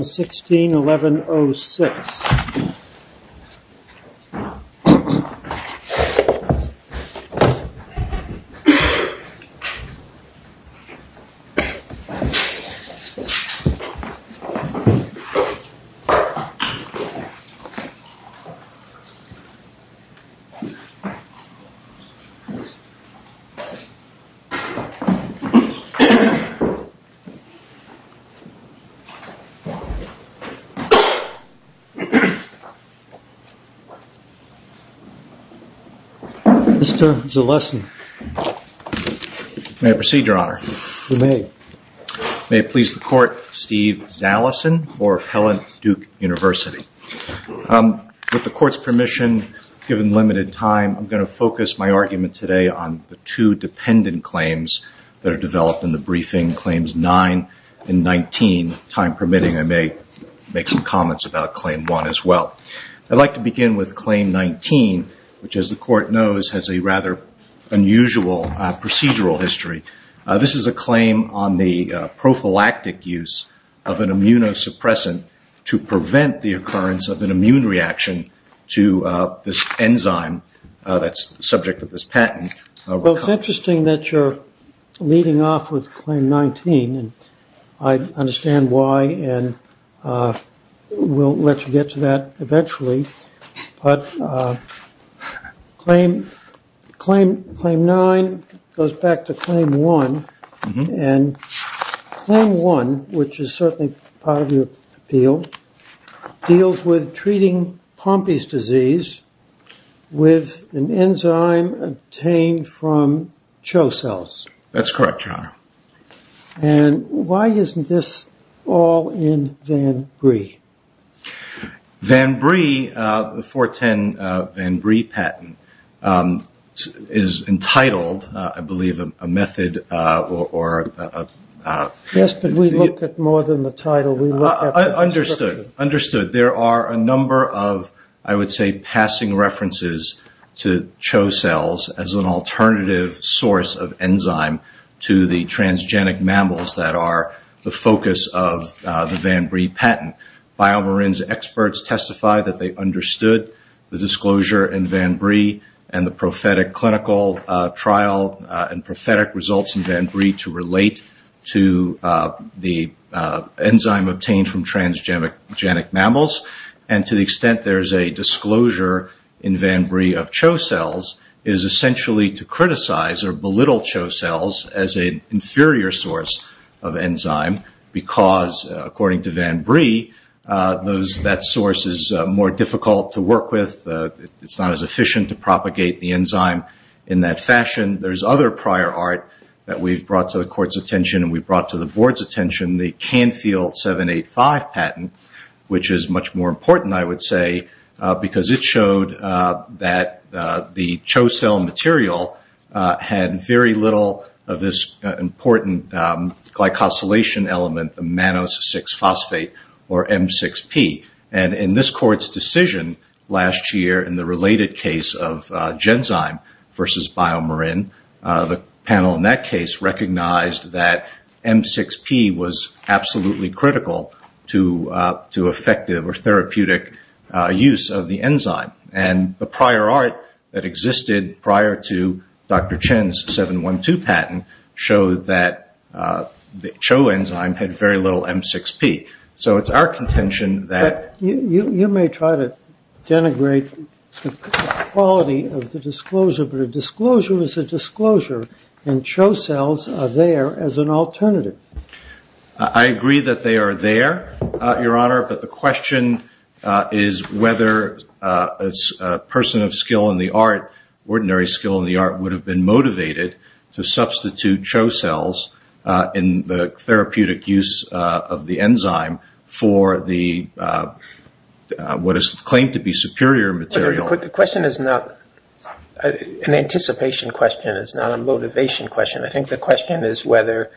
16-1106 Mr. Zalesny. May I proceed, your honor? You may. May it please the court, Steve Zalesny for Appellant Duke University. With the court's permission, given limited time, I'm going to focus my argument today on the two dependent claims that are developed in the briefing, Claims 9 and 19. Time permitting, I may make some comments about Claim 1 as well. I'd like to begin with Claim 19, which as the court knows, has a rather unusual procedural history. This is a claim on the prophylactic use of an immunosuppressant to prevent the occurrence of an immune reaction to this enzyme that's the subject of this patent. Well, it's interesting that you're leading off with Claim 19. I understand why, and we'll let you get to that eventually. But Claim 9 goes back to Claim 1, and Claim 1, which is certainly part of your appeal, deals with treating Pompe's disease with an enzyme obtained from Cho cells. That's correct, your honor. And why isn't this all in Van Brie? Van Brie, the 410 Van Brie patent, is entitled, I believe, a method or... Yes, but we look at more than the title. We look at the description. Understood. There are a number of, I would say, passing references to Cho cells as an alternative source of enzyme to the transgenic mammals that are the focus of the Van Brie patent. Biomarin's experts testify that they understood the disclosure in Van Brie and the prophetic clinical trial and prophetic results in Van Brie to relate to the enzyme obtained from transgenic mammals. And to the extent there's a disclosure in Van Brie of Cho cells is essentially to criticize or belittle Cho cells as an inferior source of enzyme because, according to Van Brie, that source is more difficult to work with. It's not as efficient to propagate the enzyme in that fashion. There's other prior art that we've patent, which is much more important, I would say, because it showed that the Cho cell material had very little of this important glycosylation element, the mannose 6-phosphate, or M6P. And in this court's decision last year in the related case of Genzyme versus Biomarin, the panel in that case recognized that M6P was absolutely critical to effective or therapeutic use of the enzyme. And the prior art that existed prior to Dr. Chen's 7.1.2 patent showed that the Cho enzyme had very little M6P. So it's our contention that... and Cho cells are there as an alternative. I agree that they are there, Your Honor, but the question is whether a person of skill in the art, ordinary skill in the art, would have been motivated to substitute Cho cells in the therapeutic use of the enzyme for what is claimed to be superior material. The question is not... an anticipation question is not a motivation question. I think the question is whether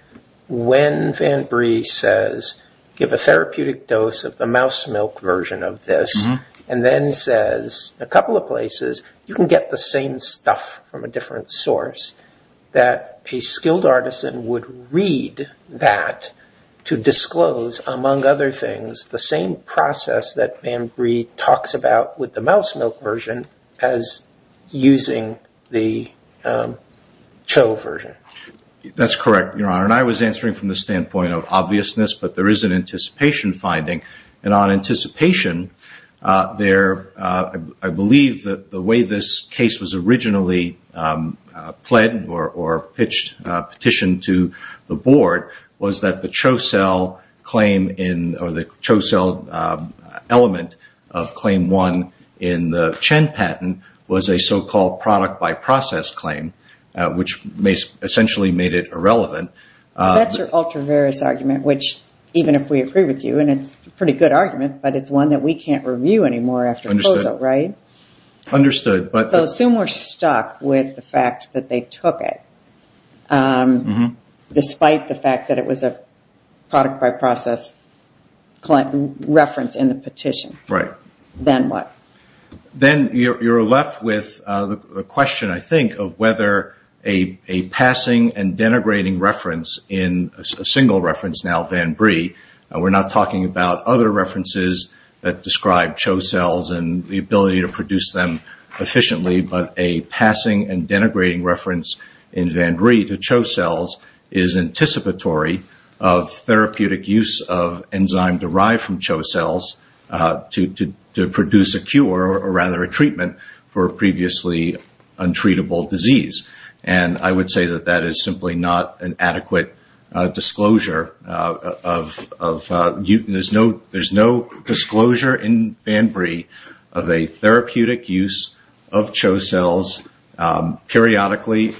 when Van Brie says, give a therapeutic dose of the mouse milk version of this, and then says a couple of places, you can get the same stuff from a different source, that a skilled artisan would read that to disclose, among other things, the same process that Van Brie talks about with the mouse milk version as using the Cho version. That's correct, Your Honor. And I was answering from the standpoint of obviousness, but there is an anticipation finding. And on anticipation, I believe that the way this case was originally pled or pitched, petitioned to the Board, was that the Cho cell claim in... or the Cho cell element of Claim 1 in the Chen patent was a so-called product by process claim, which essentially made it irrelevant. That's your ultra-various argument, which even if we agree with you, and it's a pretty good argument, but it's one that we can't review anymore after proposal, right? Understood, but... So assume we're stuck with the fact that they took it, despite the fact that it was a product by process reference in the petition. Right. Then what? Then you're left with the question, I think, of whether a passing and denigrating reference in a single reference, now Van Brie, and we're not talking about other references that describe Cho cells and the ability to produce them efficiently, but a passing and denigrating reference in Van Brie to Cho cells is anticipatory of therapeutic use of enzyme derived from Cho cells to produce a cure, or rather a treatment, for a previously untreatable disease. And I would say that that is simply not an adequate disclosure of... There's no disclosure in Van Brie of a therapeutic use of Cho cells periodically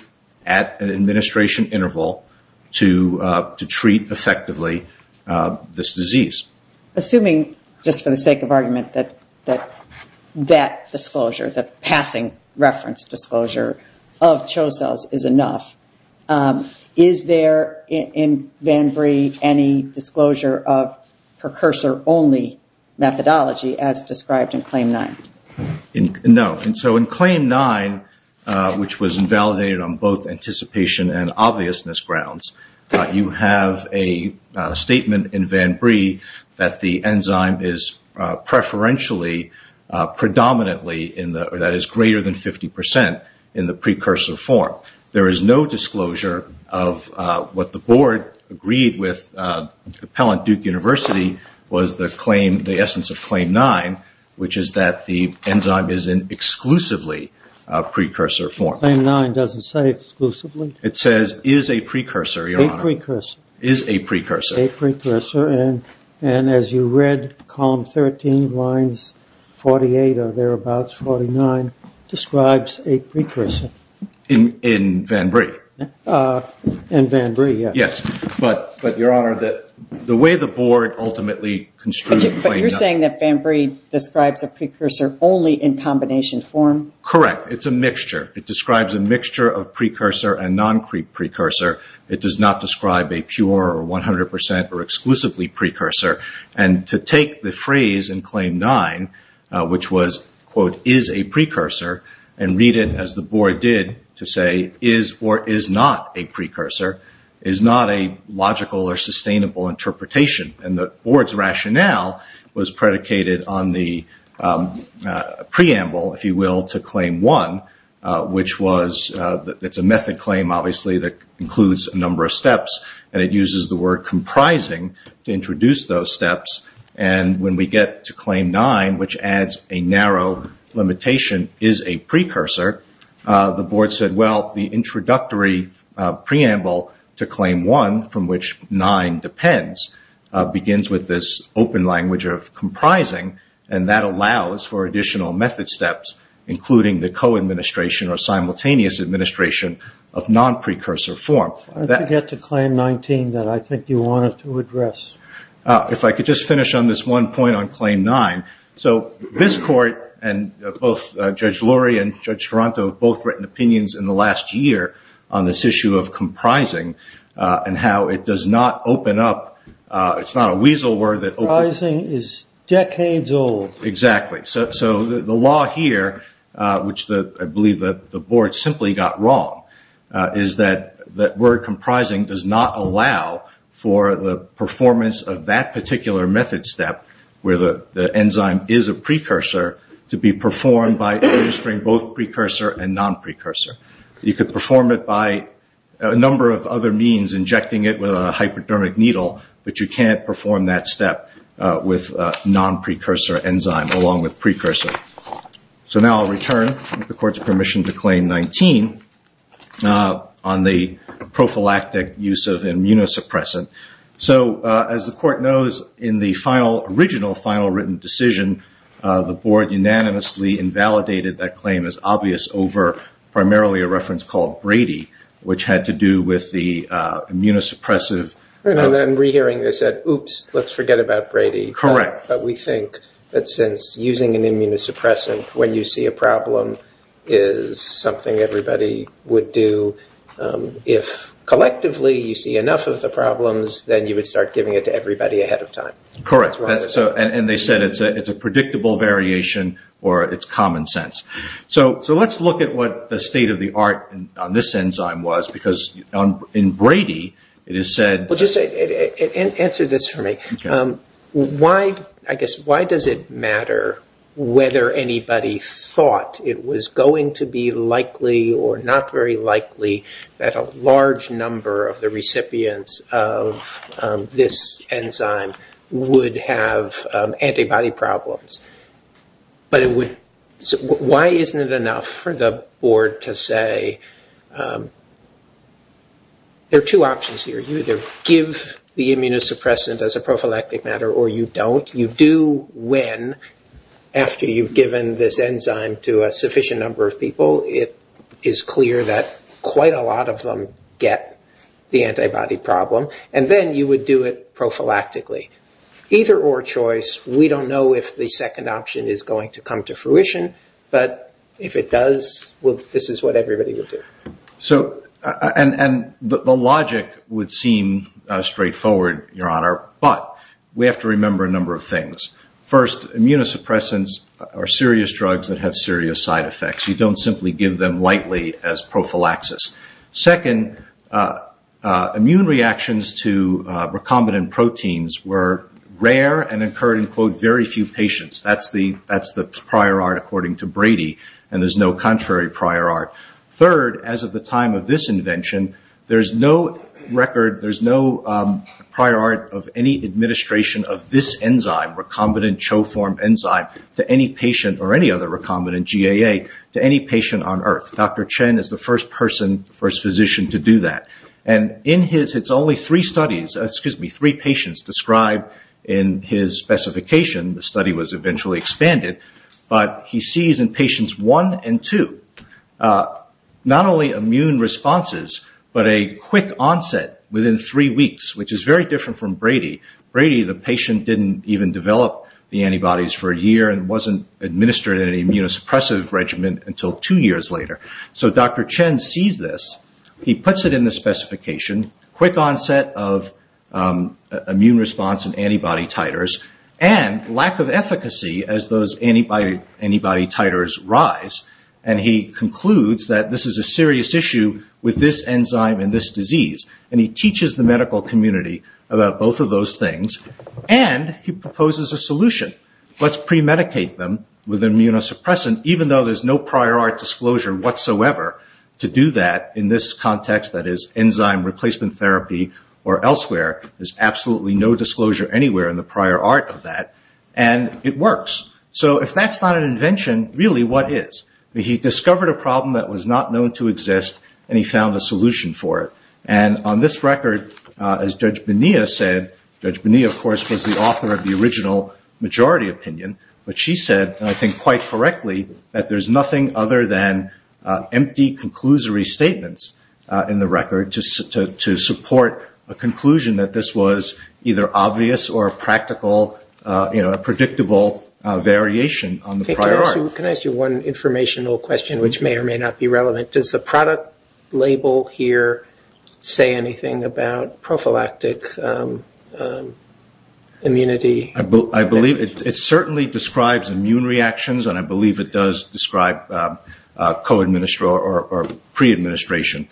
at an administration interval to treat effectively this disease. Assuming, just for the sake of argument, that that disclosure, that passing reference disclosure of Cho cells is enough, is there in Van Brie any disclosure of precursor-only methodology as described in Claim 9? No. So in Claim 9, which was invalidated on both anticipation and obviousness grounds, you have a statement in Van Brie that the enzyme is preferentially, predominantly, that is greater than 50 percent in the precursor form. There is no disclosure of what the board agreed with Appellant Duke University was the claim, the essence of Claim 9, which is that the enzyme is in exclusively precursor form. Claim 9 doesn't say exclusively? It says is a precursor, Your Honor. A precursor. Is a precursor. A precursor. And as you read, column 13, lines 48 or thereabouts, 49, describes a precursor. In Van Brie. In Van Brie, yes. But, Your Honor, the way the board ultimately construed Claim 9. But you're saying that Van Brie describes a precursor only in combination form? Correct. It's a mixture. It describes a mixture of precursor and non-precursor. It does not describe a pure or 100 percent or exclusively precursor. And to take the phrase in Claim 9, which was, quote, is a precursor, and read it as the board did to say is or is not a precursor, is not a logical or sustainable interpretation. And the board's rationale was predicated on the preamble, if you will, to Claim 1, which was that it's a method claim, obviously, that includes a number of steps. And it uses the word comprising to introduce those steps. And when we get to Claim 9, which adds a narrow limitation, is a precursor, the introductory preamble to Claim 1, from which 9 depends, begins with this open language of comprising, and that allows for additional method steps, including the co-administration or simultaneous administration of non-precursor form. Why don't you get to Claim 19 that I think you wanted to address? If I could just finish on this one point on Claim 9. So this court, and both Judge Lurie and Judge Taranto have both written opinions in the last year on this issue of comprising and how it does not open up. It's not a weasel word that opens up. Comprising is decades old. Exactly. So the law here, which I believe the board simply got wrong, is that the word comprising does not allow for the performance of that particular method step where the enzyme is a precursor to be performed by administering both precursor and non-precursor. You could perform it by a number of other means, injecting it with a hypodermic needle, but you can't perform that step with a non-precursor enzyme along with precursor. So now I'll return, with the court's permission, to Claim 19 on the prophylactic use of immunosuppressant. So, as the court knows, in the original final written decision, the board unanimously invalidated that claim as obvious over primarily a reference called Brady, which had to do with the immunosuppressive. And then re-hearing this at oops, let's forget about Brady. Correct. But we think that since using an immunosuppressant when you see a problem is something everybody would do, if collectively you see enough of the problems, then you would start giving it to everybody ahead of time. Correct. And they said it's a predictable variation or it's common sense. So let's look at what the state of the art on this enzyme was because in Brady it is said. Well, just answer this for me. Why, I guess, why does it matter whether anybody thought it was going to be likely or not very likely that a large number of the recipients of this enzyme would have antibody problems? But why isn't it enough for the board to say there are two options here. You either give the immunosuppressant as a prophylactic matter or you don't. You do when, after you've given this enzyme to a sufficient number of people, it is clear that quite a lot of them get the antibody problem. And then you would do it prophylactically. Either or choice, we don't know if the second option is going to come to fruition. But if it does, this is what everybody would do. And the logic would seem straightforward, Your Honor, but we have to remember a number of things. First, immunosuppressants are serious drugs that have serious side effects. You don't simply give them lightly as prophylaxis. Second, immune reactions to recombinant proteins were rare and occurred in, quote, very few patients. That's the prior art according to Brady, and there's no contrary prior art. Third, as of the time of this invention, there's no record, there's no prior art of any administration of this enzyme, recombinant choform enzyme, to any patient or any other recombinant, GAA, to any patient on earth. Dr. Chen is the first person, first physician to do that. And in his, it's only three studies, excuse me, three patients described in his specification. The study was eventually expanded. But he sees in patients one and two not only immune responses, but a quick onset within three weeks, which is very different from Brady. Brady, the patient, didn't even develop the antibodies for a year and wasn't administered an immunosuppressive regimen until two years later. So Dr. Chen sees this. He puts it in the specification, quick onset of immune response in antibody titers and lack of efficacy as those antibody titers rise. And he concludes that this is a serious issue with this enzyme and this disease. And he teaches the medical community about both of those things. And he proposes a solution. Let's premedicate them with immunosuppressant, even though there's no prior art disclosure whatsoever to do that in this context, that is enzyme replacement therapy or elsewhere. There's absolutely no disclosure anywhere in the prior art of that. And it works. So if that's not an invention, really what is? He discovered a problem that was not known to exist, and he found a solution for it. And on this record, as Judge Bonilla said, Judge Bonilla, of course, was the author of the original majority opinion, but she said, I think quite correctly, that there's nothing other than empty conclusory statements in the record to support a conclusion that this was either obvious or a predictable variation on the prior art. Can I ask you one informational question, which may or may not be relevant? Does the product label here say anything about prophylactic immunity? I believe it certainly describes immune reactions, and I believe it does describe co-administration or pre-administration.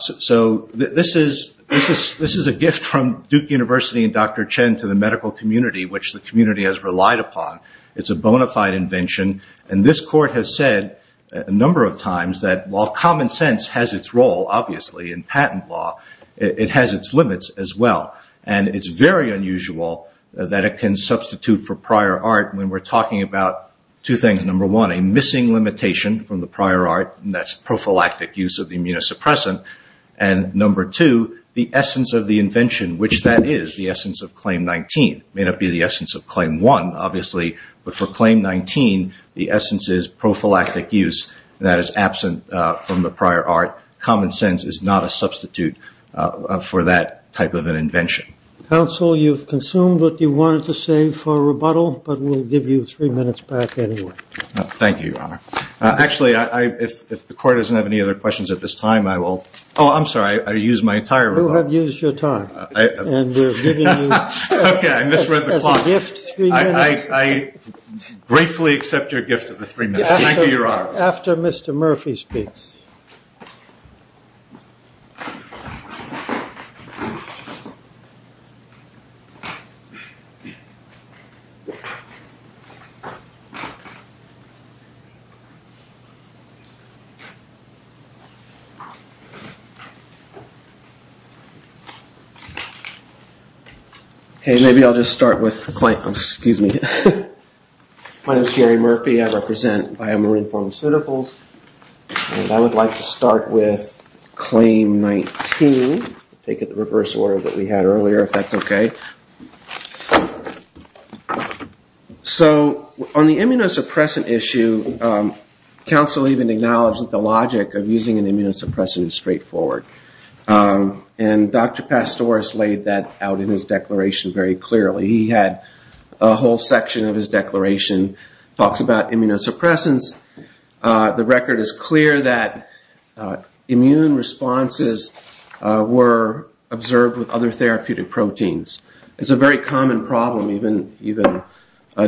So this is a gift from Duke University and Dr. Chen to the medical community, which the community has relied upon. It's a bona fide invention, and this court has said a number of times that while common sense has its role, obviously, in patent law, it has its limits as well. And it's very unusual that it can substitute for prior art when we're talking about two things. Number one, a missing limitation from the prior art, and that's prophylactic use of the immunosuppressant. And number two, the essence of the invention, which that is the essence of Claim 19. It may not be the essence of Claim 1, obviously, but for Claim 19 the essence is prophylactic use that is absent from the prior art. Common sense is not a substitute for that type of an invention. Counsel, you've consumed what you wanted to say for rebuttal, but we'll give you three minutes back anyway. Thank you, Your Honor. Actually, if the court doesn't have any other questions at this time, I will. Oh, I'm sorry. I used my entire rebuttal. You have used your time. Okay, I misread the clock. As a gift, three minutes. I gratefully accept your gift of the three minutes. Thank you, Your Honor. After Mr. Murphy speaks. Okay, maybe I'll just start with the claim. Excuse me. My name is Gary Murphy. I represent Biomarine Pharmaceuticals, and I would like to start with Claim 19. Take it the reverse order that we had earlier, if that's okay. Okay. So on the immunosuppressant issue, counsel even acknowledged that the logic of using an immunosuppressant is straightforward. And Dr. Pastoris laid that out in his declaration very clearly. He had a whole section of his declaration that talks about immunosuppressants. The record is clear that immune responses were observed with other therapeutic proteins. It's a very common problem. Even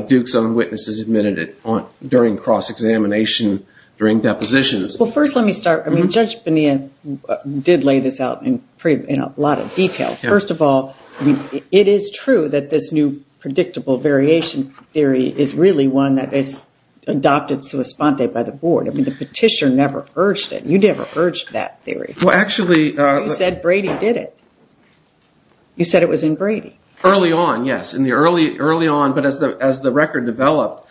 Duke's own witnesses admitted it during cross-examination during depositions. Well, first let me start. I mean, Judge Bonilla did lay this out in a lot of detail. First of all, it is true that this new predictable variation theory is really one that is adopted sua sponte by the board. I mean, the petitioner never urged it. You never urged that theory. You said Brady did it. You said it was in Brady. Early on, yes. Early on, but as the record developed,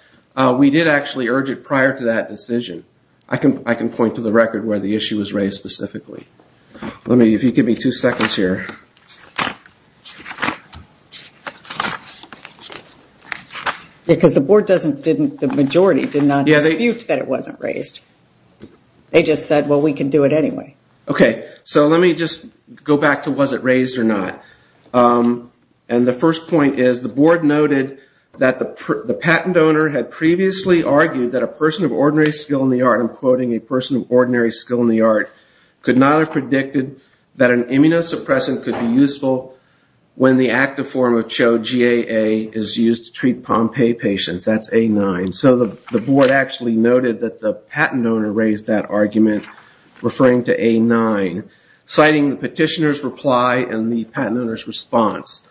we did actually urge it prior to that decision. I can point to the record where the issue was raised specifically. If you could give me two seconds here. Because the majority did not dispute that it wasn't raised. They just said, well, we can do it anyway. Okay, so let me just go back to was it raised or not. The first point is the board noted that the patent owner had previously argued that a person of ordinary skill in the art, I'm quoting a person of ordinary skill in the art, could not have predicted that an immunosuppressant could be useful when the active form of CHO-GAA is used to treat Pompe patients. That's A9. So the board actually noted that the patent owner raised that argument, referring to A9, citing the petitioner's reply and the patent owner's response.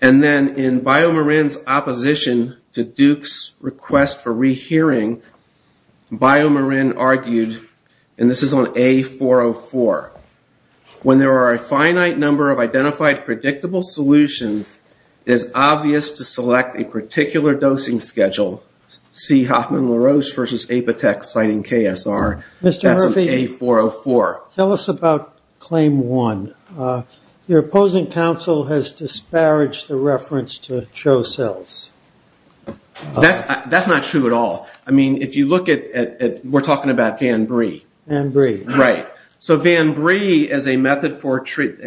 And then in BioMarin's opposition to Duke's request for rehearing, BioMarin argued, and this is on A404, when there are a finite number of identified predictable solutions, it is obvious to select a particular dosing schedule, see Hoffman-LaRoche versus Apitech citing KSR. That's on A404. Tell us about Claim 1. Your opposing counsel has disparaged the reference to CHO cells. That's not true at all. I mean, if you look at, we're talking about VanBree. VanBree. Right. So VanBree is a method for,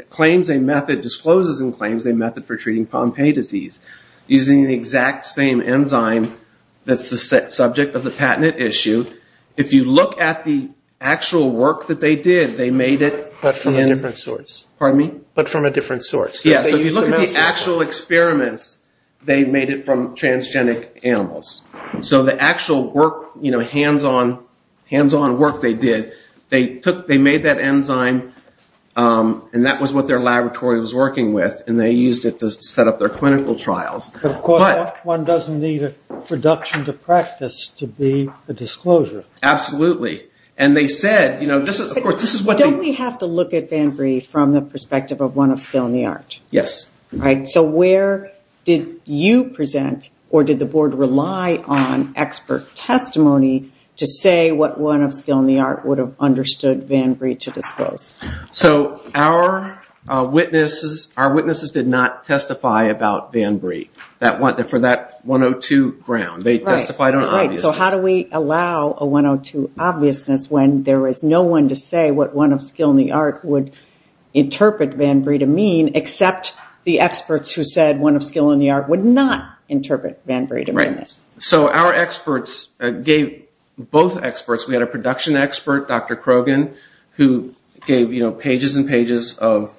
claims a method, discloses and claims a method for treating Pompe disease, using the exact same enzyme that's the subject of the patent issue. If you look at the actual work that they did, they made it. But from a different source. Pardon me? But from a different source. Yes, so if you look at the actual experiments, they made it from transgenic animals. So the actual work, you know, hands-on work they did, they made that enzyme, and that was what their laboratory was working with, and they used it to set up their clinical trials. But, of course, one doesn't need a reduction to practice to be a disclosure. Absolutely. And they said, you know, this is what they. So we have to look at VanBree from the perspective of one of skill in the art. Yes. All right, so where did you present, or did the board rely on expert testimony to say what one of skill in the art would have understood VanBree to disclose? So our witnesses did not testify about VanBree for that 102 ground. They testified on obviousness. Right, so how do we allow a 102 obviousness when there was no one to say what one of skill in the art would interpret VanBree to mean, except the experts who said one of skill in the art would not interpret VanBree to mean this? Right. So our experts gave, both experts, we had a production expert, Dr. Krogan, who gave, you know, pages and pages of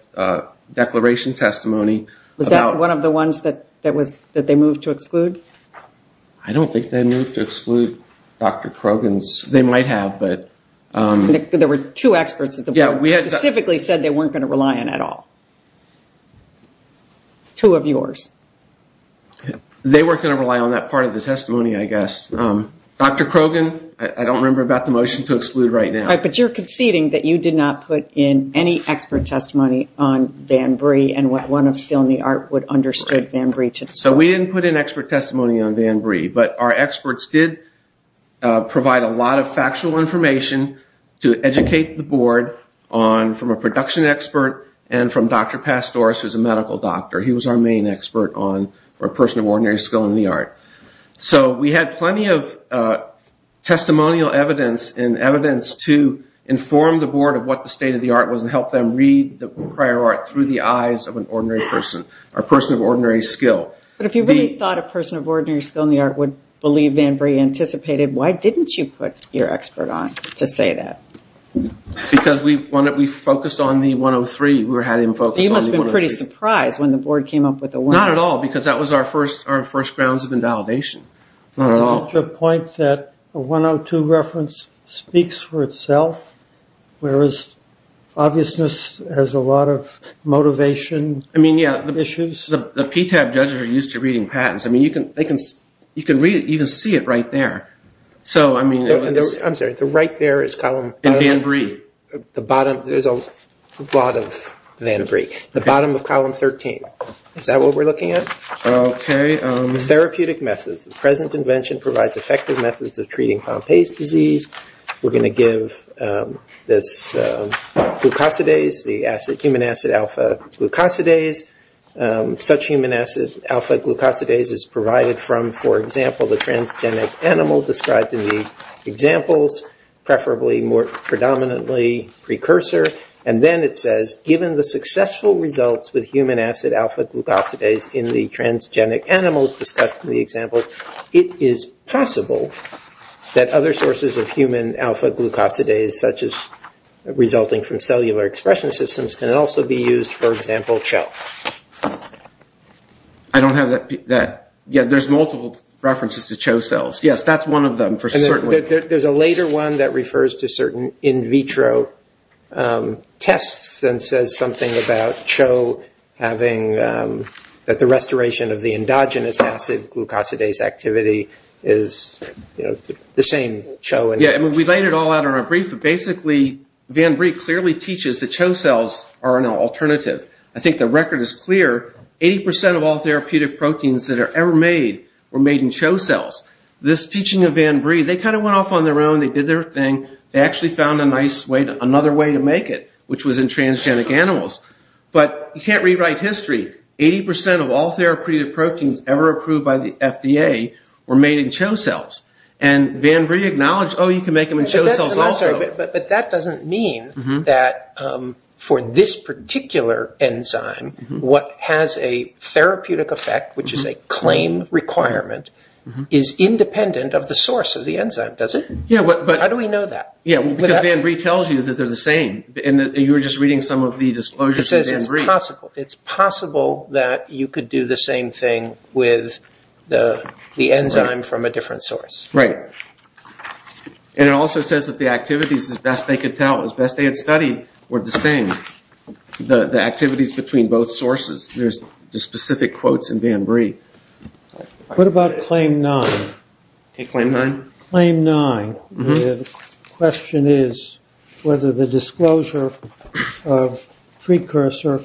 declaration testimony. Was that one of the ones that they moved to exclude? I don't think they moved to exclude Dr. Krogan's. They might have, but. There were two experts at the board who specifically said they weren't going to rely on it at all. Two of yours. They weren't going to rely on that part of the testimony, I guess. Dr. Krogan, I don't remember about the motion to exclude right now. But you're conceding that you did not put in any expert testimony on VanBree and what one of skill in the art would have understood VanBree to say. So we didn't put in expert testimony on VanBree, but our experts did provide a lot of factual information to educate the board from a production expert and from Dr. Pastoris, who's a medical doctor. He was our main expert on a person of ordinary skill in the art. So we had plenty of testimonial evidence and evidence to inform the board of what the state of the art was and help them read the prior art through the eyes of an ordinary person or person of ordinary skill. But if you really thought a person of ordinary skill in the art would believe VanBree anticipated, why didn't you put your expert on to say that? Because we focused on the 103. You must have been pretty surprised when the board came up with the 103. Not at all, because that was our first grounds of invalidation. Not at all. To the point that the 102 reference speaks for itself, whereas obviousness has a lot of motivation issues. The PTAB judges are used to reading patents. I mean, you can see it right there. I'm sorry, the right there is column... In VanBree. There's a lot of VanBree. The bottom of column 13. Is that what we're looking at? Okay. Therapeutic methods. The present invention provides effective methods of treating Pompe's disease. We're going to give this glucosidase, the human acid alpha glucosidase. Such human acid alpha glucosidase is provided from, for example, the transgenic animal described in the examples, preferably more predominantly precursor. And then it says, given the successful results with human acid alpha glucosidase in the transgenic animals discussed in the examples, it is possible that other sources of human alpha glucosidase, such as resulting from cellular expression systems, can also be used, for example, CHO. I don't have that. Yeah, there's multiple references to CHO cells. Yes, that's one of them for certain. There's a later one that refers to certain in vitro tests and says something about CHO having the restoration of the endogenous acid glucosidase activity is the same CHO. Yeah, we laid it all out in our brief, but basically VanBree clearly teaches that CHO cells are an alternative. I think the record is clear. Eighty percent of all therapeutic proteins that are ever made were made in CHO cells. This teaching of VanBree, they kind of went off on their own. They did their thing. They actually found another way to make it, which was in transgenic animals. But you can't rewrite history. Eighty percent of all therapeutic proteins ever approved by the FDA were made in CHO cells. And VanBree acknowledged, oh, you can make them in CHO cells also. But that doesn't mean that for this particular enzyme, what has a therapeutic effect, which is a claim requirement, is independent of the source of the enzyme, does it? How do we know that? Because VanBree tells you that they're the same. You were just reading some of the disclosures in VanBree. It says it's possible. It's possible that you could do the same thing with the enzyme from a different source. Right. And it also says that the activities, as best they could tell, as best they had studied, were the same. The activities between both sources. There's specific quotes in VanBree. What about Claim 9? Claim 9? The question is whether the disclosure of precursor,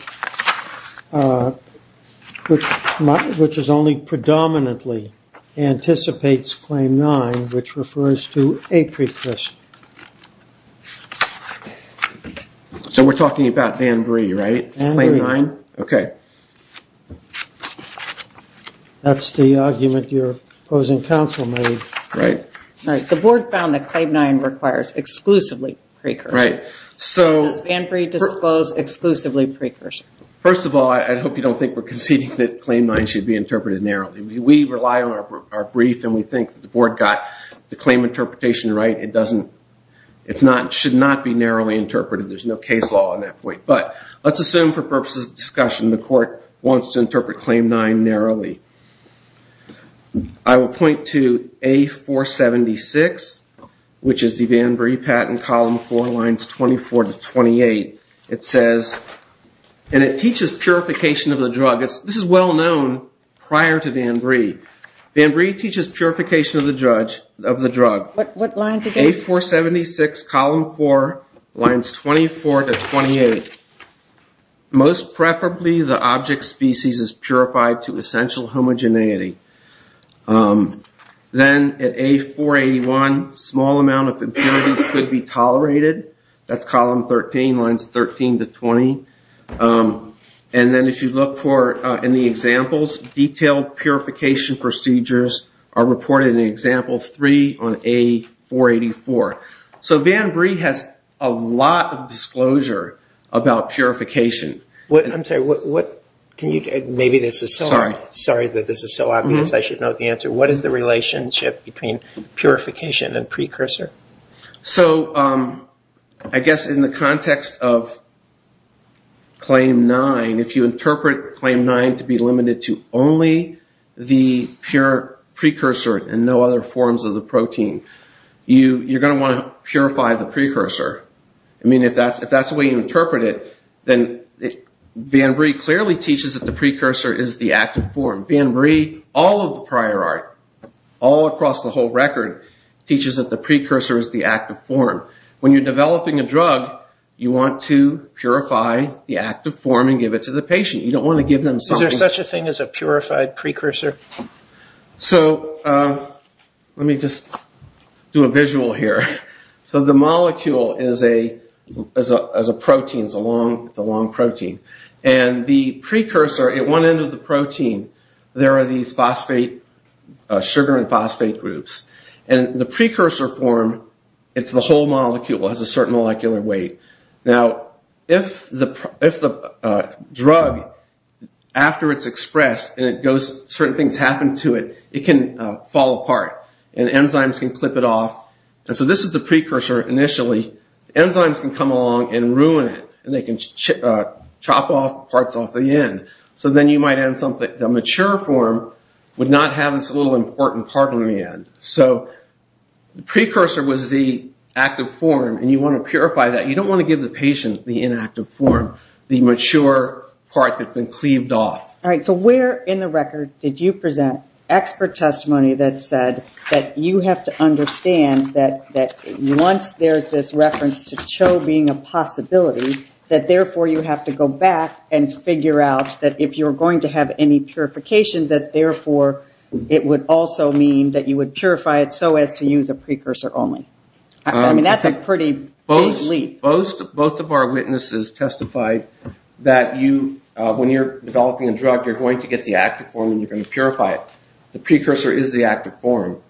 which is only predominantly anticipates Claim 9, which refers to a precursor. So we're talking about VanBree, right? VanBree. Claim 9? Okay. That's the argument your opposing counsel made. Right. The board found that Claim 9 requires exclusively precursor. Right. Does VanBree disclose exclusively precursor? First of all, I hope you don't think we're conceding that Claim 9 should be interpreted narrowly. We rely on our brief and we think the board got the claim interpretation right. It should not be narrowly interpreted. There's no case law on that point. But let's assume for purposes of discussion the court wants to interpret Claim 9 narrowly. I will point to A476, which is the VanBree patent, Column 4, Lines 24 to 28. It says, and it teaches purification of the drug. This is well known prior to VanBree. VanBree teaches purification of the drug. What lines are those? A476, Column 4, Lines 24 to 28. Most preferably the object species is purified to essential homogeneity. Then at A481, small amount of impurities could be tolerated. That's Column 13, Lines 13 to 20. And then if you look for in the examples, detailed purification procedures are reported in Example 3 on A484. So VanBree has a lot of disclosure about purification. I'm sorry, maybe this is so obvious I should note the answer. What is the relationship between purification and precursor? So I guess in the context of Claim 9, if you interpret Claim 9 to be limited to only the precursor and no other forms of the protein, you're going to want to purify the precursor. I mean if that's the way you interpret it, then VanBree clearly teaches that the precursor is the active form. VanBree, all of the prior art, all across the whole record, teaches that the precursor is the active form. When you're developing a drug, you want to purify the active form and give it to the patient. You don't want to give them something... Is there such a thing as a purified precursor? So let me just do a visual here. So the molecule is a protein. It's a long protein. And the precursor, at one end of the protein, there are these phosphate, sugar and phosphate groups. And the precursor form, it's the whole molecule. It has a certain molecular weight. Now, if the drug, after it's expressed and certain things happen to it, it can fall apart. And enzymes can clip it off. And so this is the precursor initially. Enzymes can come along and ruin it, and they can chop off parts off the end. So then you might end up with a mature form with not having this little important part on the end. So the precursor was the active form, and you want to purify that. You don't want to give the patient the inactive form, the mature part that's been cleaved off. All right. So where in the record did you present expert testimony that said that you have to understand that once there's this reference to CHO being a possibility, that therefore you have to go back and figure out that if you're going to have any purification, that therefore it would also mean that you would purify it so as to use a precursor only? I mean, that's a pretty big leap. Both of our witnesses testified that when you're developing a drug, you're going to get the active form, and you're going to purify it. The precursor is the active form.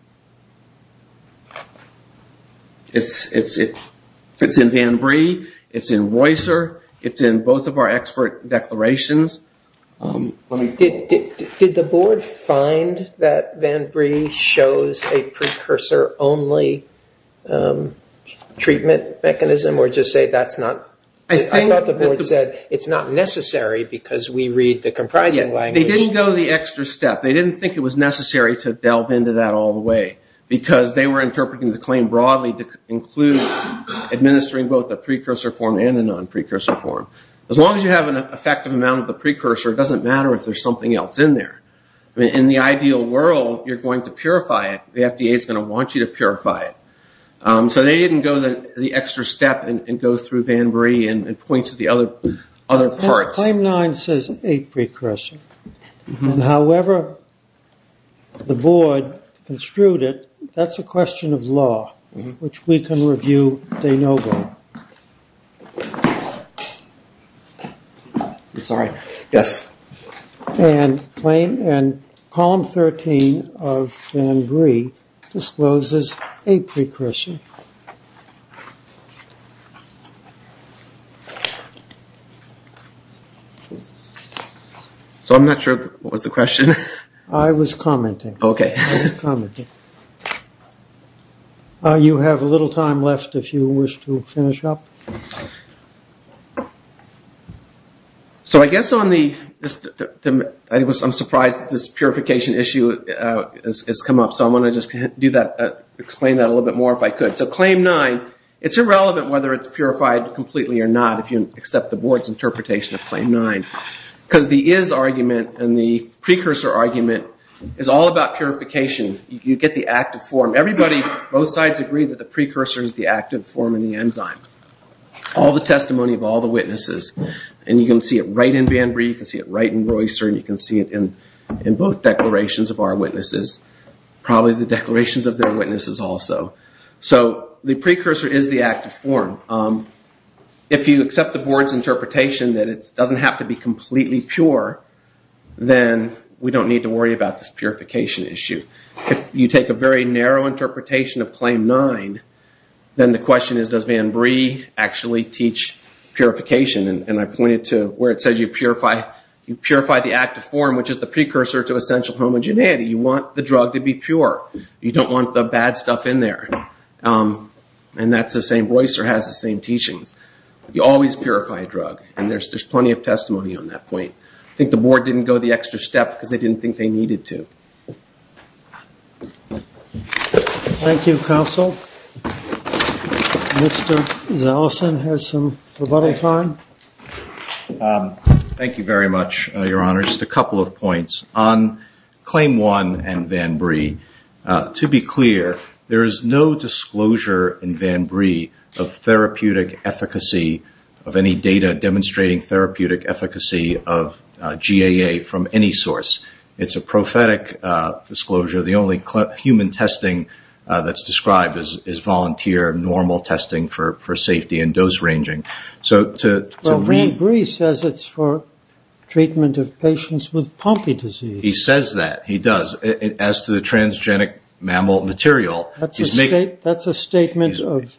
It's in VanBree. It's in Roycer. It's in both of our expert declarations. Did the board find that VanBree shows a precursor only treatment mechanism, or just say that's not? I thought the board said it's not necessary because we read the comprising language. They didn't go the extra step. They didn't think it was necessary to delve into that all the way because they were interpreting the claim broadly to include administering both the precursor form and the non-precursor form. As long as you have an effective amount of the precursor, it doesn't matter if there's something else in there. In the ideal world, you're going to purify it. The FDA is going to want you to purify it. So they didn't go the extra step and go through VanBree and point to the other parts. Claim nine says eight precursor, and however the board construed it, that's a question of law, which we can review day no go. I'm sorry. Yes. And claim and column 13 of VanBree discloses a precursor. So I'm not sure what was the question. I was commenting. Okay. I was commenting. You have a little time left if you wish to finish up. So I guess on the ‑‑ I'm surprised this purification issue has come up. So I want to just do that, explain that a little bit more if I could. So claim nine, it's irrelevant whether it's purified completely or not if you accept the board's interpretation of claim nine because the is argument and the precursor argument is all about purification. You get the active form. Everybody, both sides agree that the precursor is the active form in the enzyme. All the testimony of all the witnesses. And you can see it right in VanBree, you can see it right in Royster, and you can see it in both declarations of our witnesses, probably the declarations of their witnesses also. So the precursor is the active form. If you accept the board's interpretation that it doesn't have to be completely pure, then we don't need to worry about this purification issue. If you take a very narrow interpretation of claim nine, then the question is does VanBree actually teach purification. And I pointed to where it says you purify the active form, which is the precursor to essential homogeneity. You want the drug to be pure. You don't want the bad stuff in there. And that's the same. Royster has the same teachings. You always purify a drug, and there's plenty of testimony on that point. I think the board didn't go the extra step because they didn't think they needed to. Thank you, counsel. Mr. Zaleson has some rebuttal time. Thank you very much, Your Honor. Just a couple of points. On claim one and VanBree, to be clear, there is no disclosure in VanBree of therapeutic efficacy of any data demonstrating therapeutic efficacy of GAA from any source. It's a prophetic disclosure. The only human testing that's described is volunteer normal testing for safety and dose ranging. Well, VanBree says it's for treatment of patients with pulpy disease. He says that. He does. As to the transgenic mammal material. That's a statement that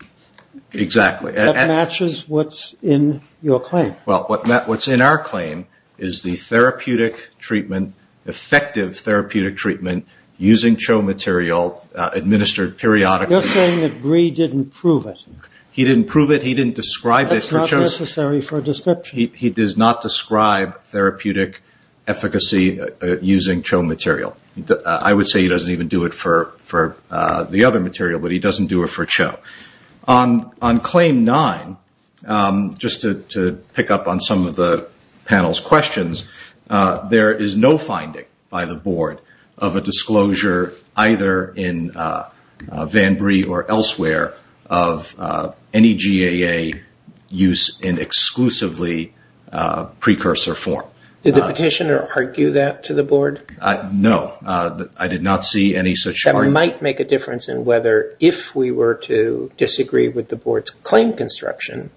matches what's in your claim. Well, what's in our claim is the therapeutic treatment, effective therapeutic treatment using CHO material administered periodically. You're saying that Bree didn't prove it. He didn't prove it. That's not necessary for a description. He does not describe therapeutic efficacy using CHO material. I would say he doesn't even do it for the other material, but he doesn't do it for CHO. On claim nine, just to pick up on some of the panel's questions, there is no finding by the board of a disclosure either in VanBree or elsewhere of any GAA use in exclusively precursor form. Did the petitioner argue that to the board? No. I did not see any such argument. That might make a difference in whether if we were to disagree with the board's claim construction,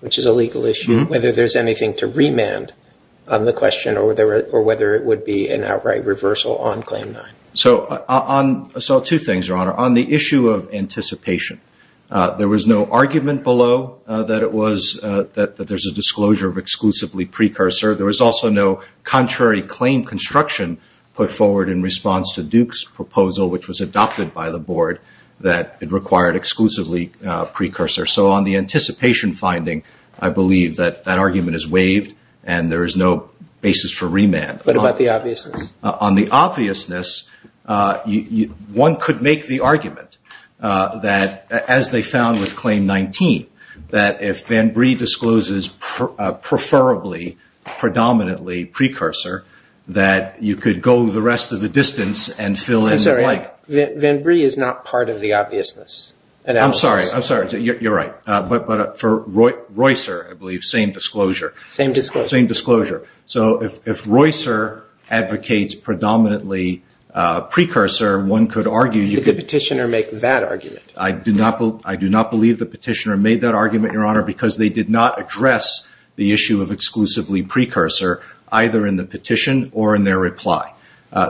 which is a legal issue, whether there's anything to remand on the question or whether it would be an outright reversal on claim nine. So two things, Your Honor. On the issue of anticipation, there was no argument below that there's a disclosure of exclusively precursor. There was also no contrary claim construction put forward in response to Duke's proposal, which was adopted by the board, that it required exclusively precursor. So on the anticipation finding, I believe that that argument is waived and there is no basis for remand. What about the obviousness? On the obviousness, one could make the argument that, as they found with claim 19, that if VanBree discloses preferably, predominantly precursor, that you could go the rest of the distance and fill in the blank. I'm sorry. VanBree is not part of the obviousness. I'm sorry. You're right. But for Roycer, I believe, same disclosure. Same disclosure. Same disclosure. So if Roycer advocates predominantly precursor, one could argue you could – Did the petitioner make that argument? I do not believe the petitioner made that argument, Your Honor, because they did not address the issue of exclusively precursor either in the petition or in their reply.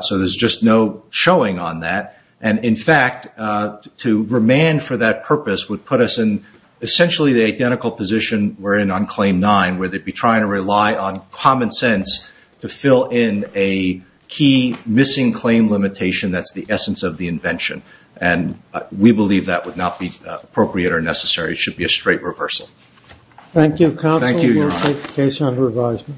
So there's just no showing on that. And, in fact, to remand for that purpose would put us in essentially the identical position we're in on claim 9, where they'd be trying to rely on common sense to fill in a key missing claim limitation that's the essence of the invention. And we believe that would not be appropriate or necessary. It should be a straight reversal. Thank you, counsel. Thank you, Your Honor. We'll take the case under advisement.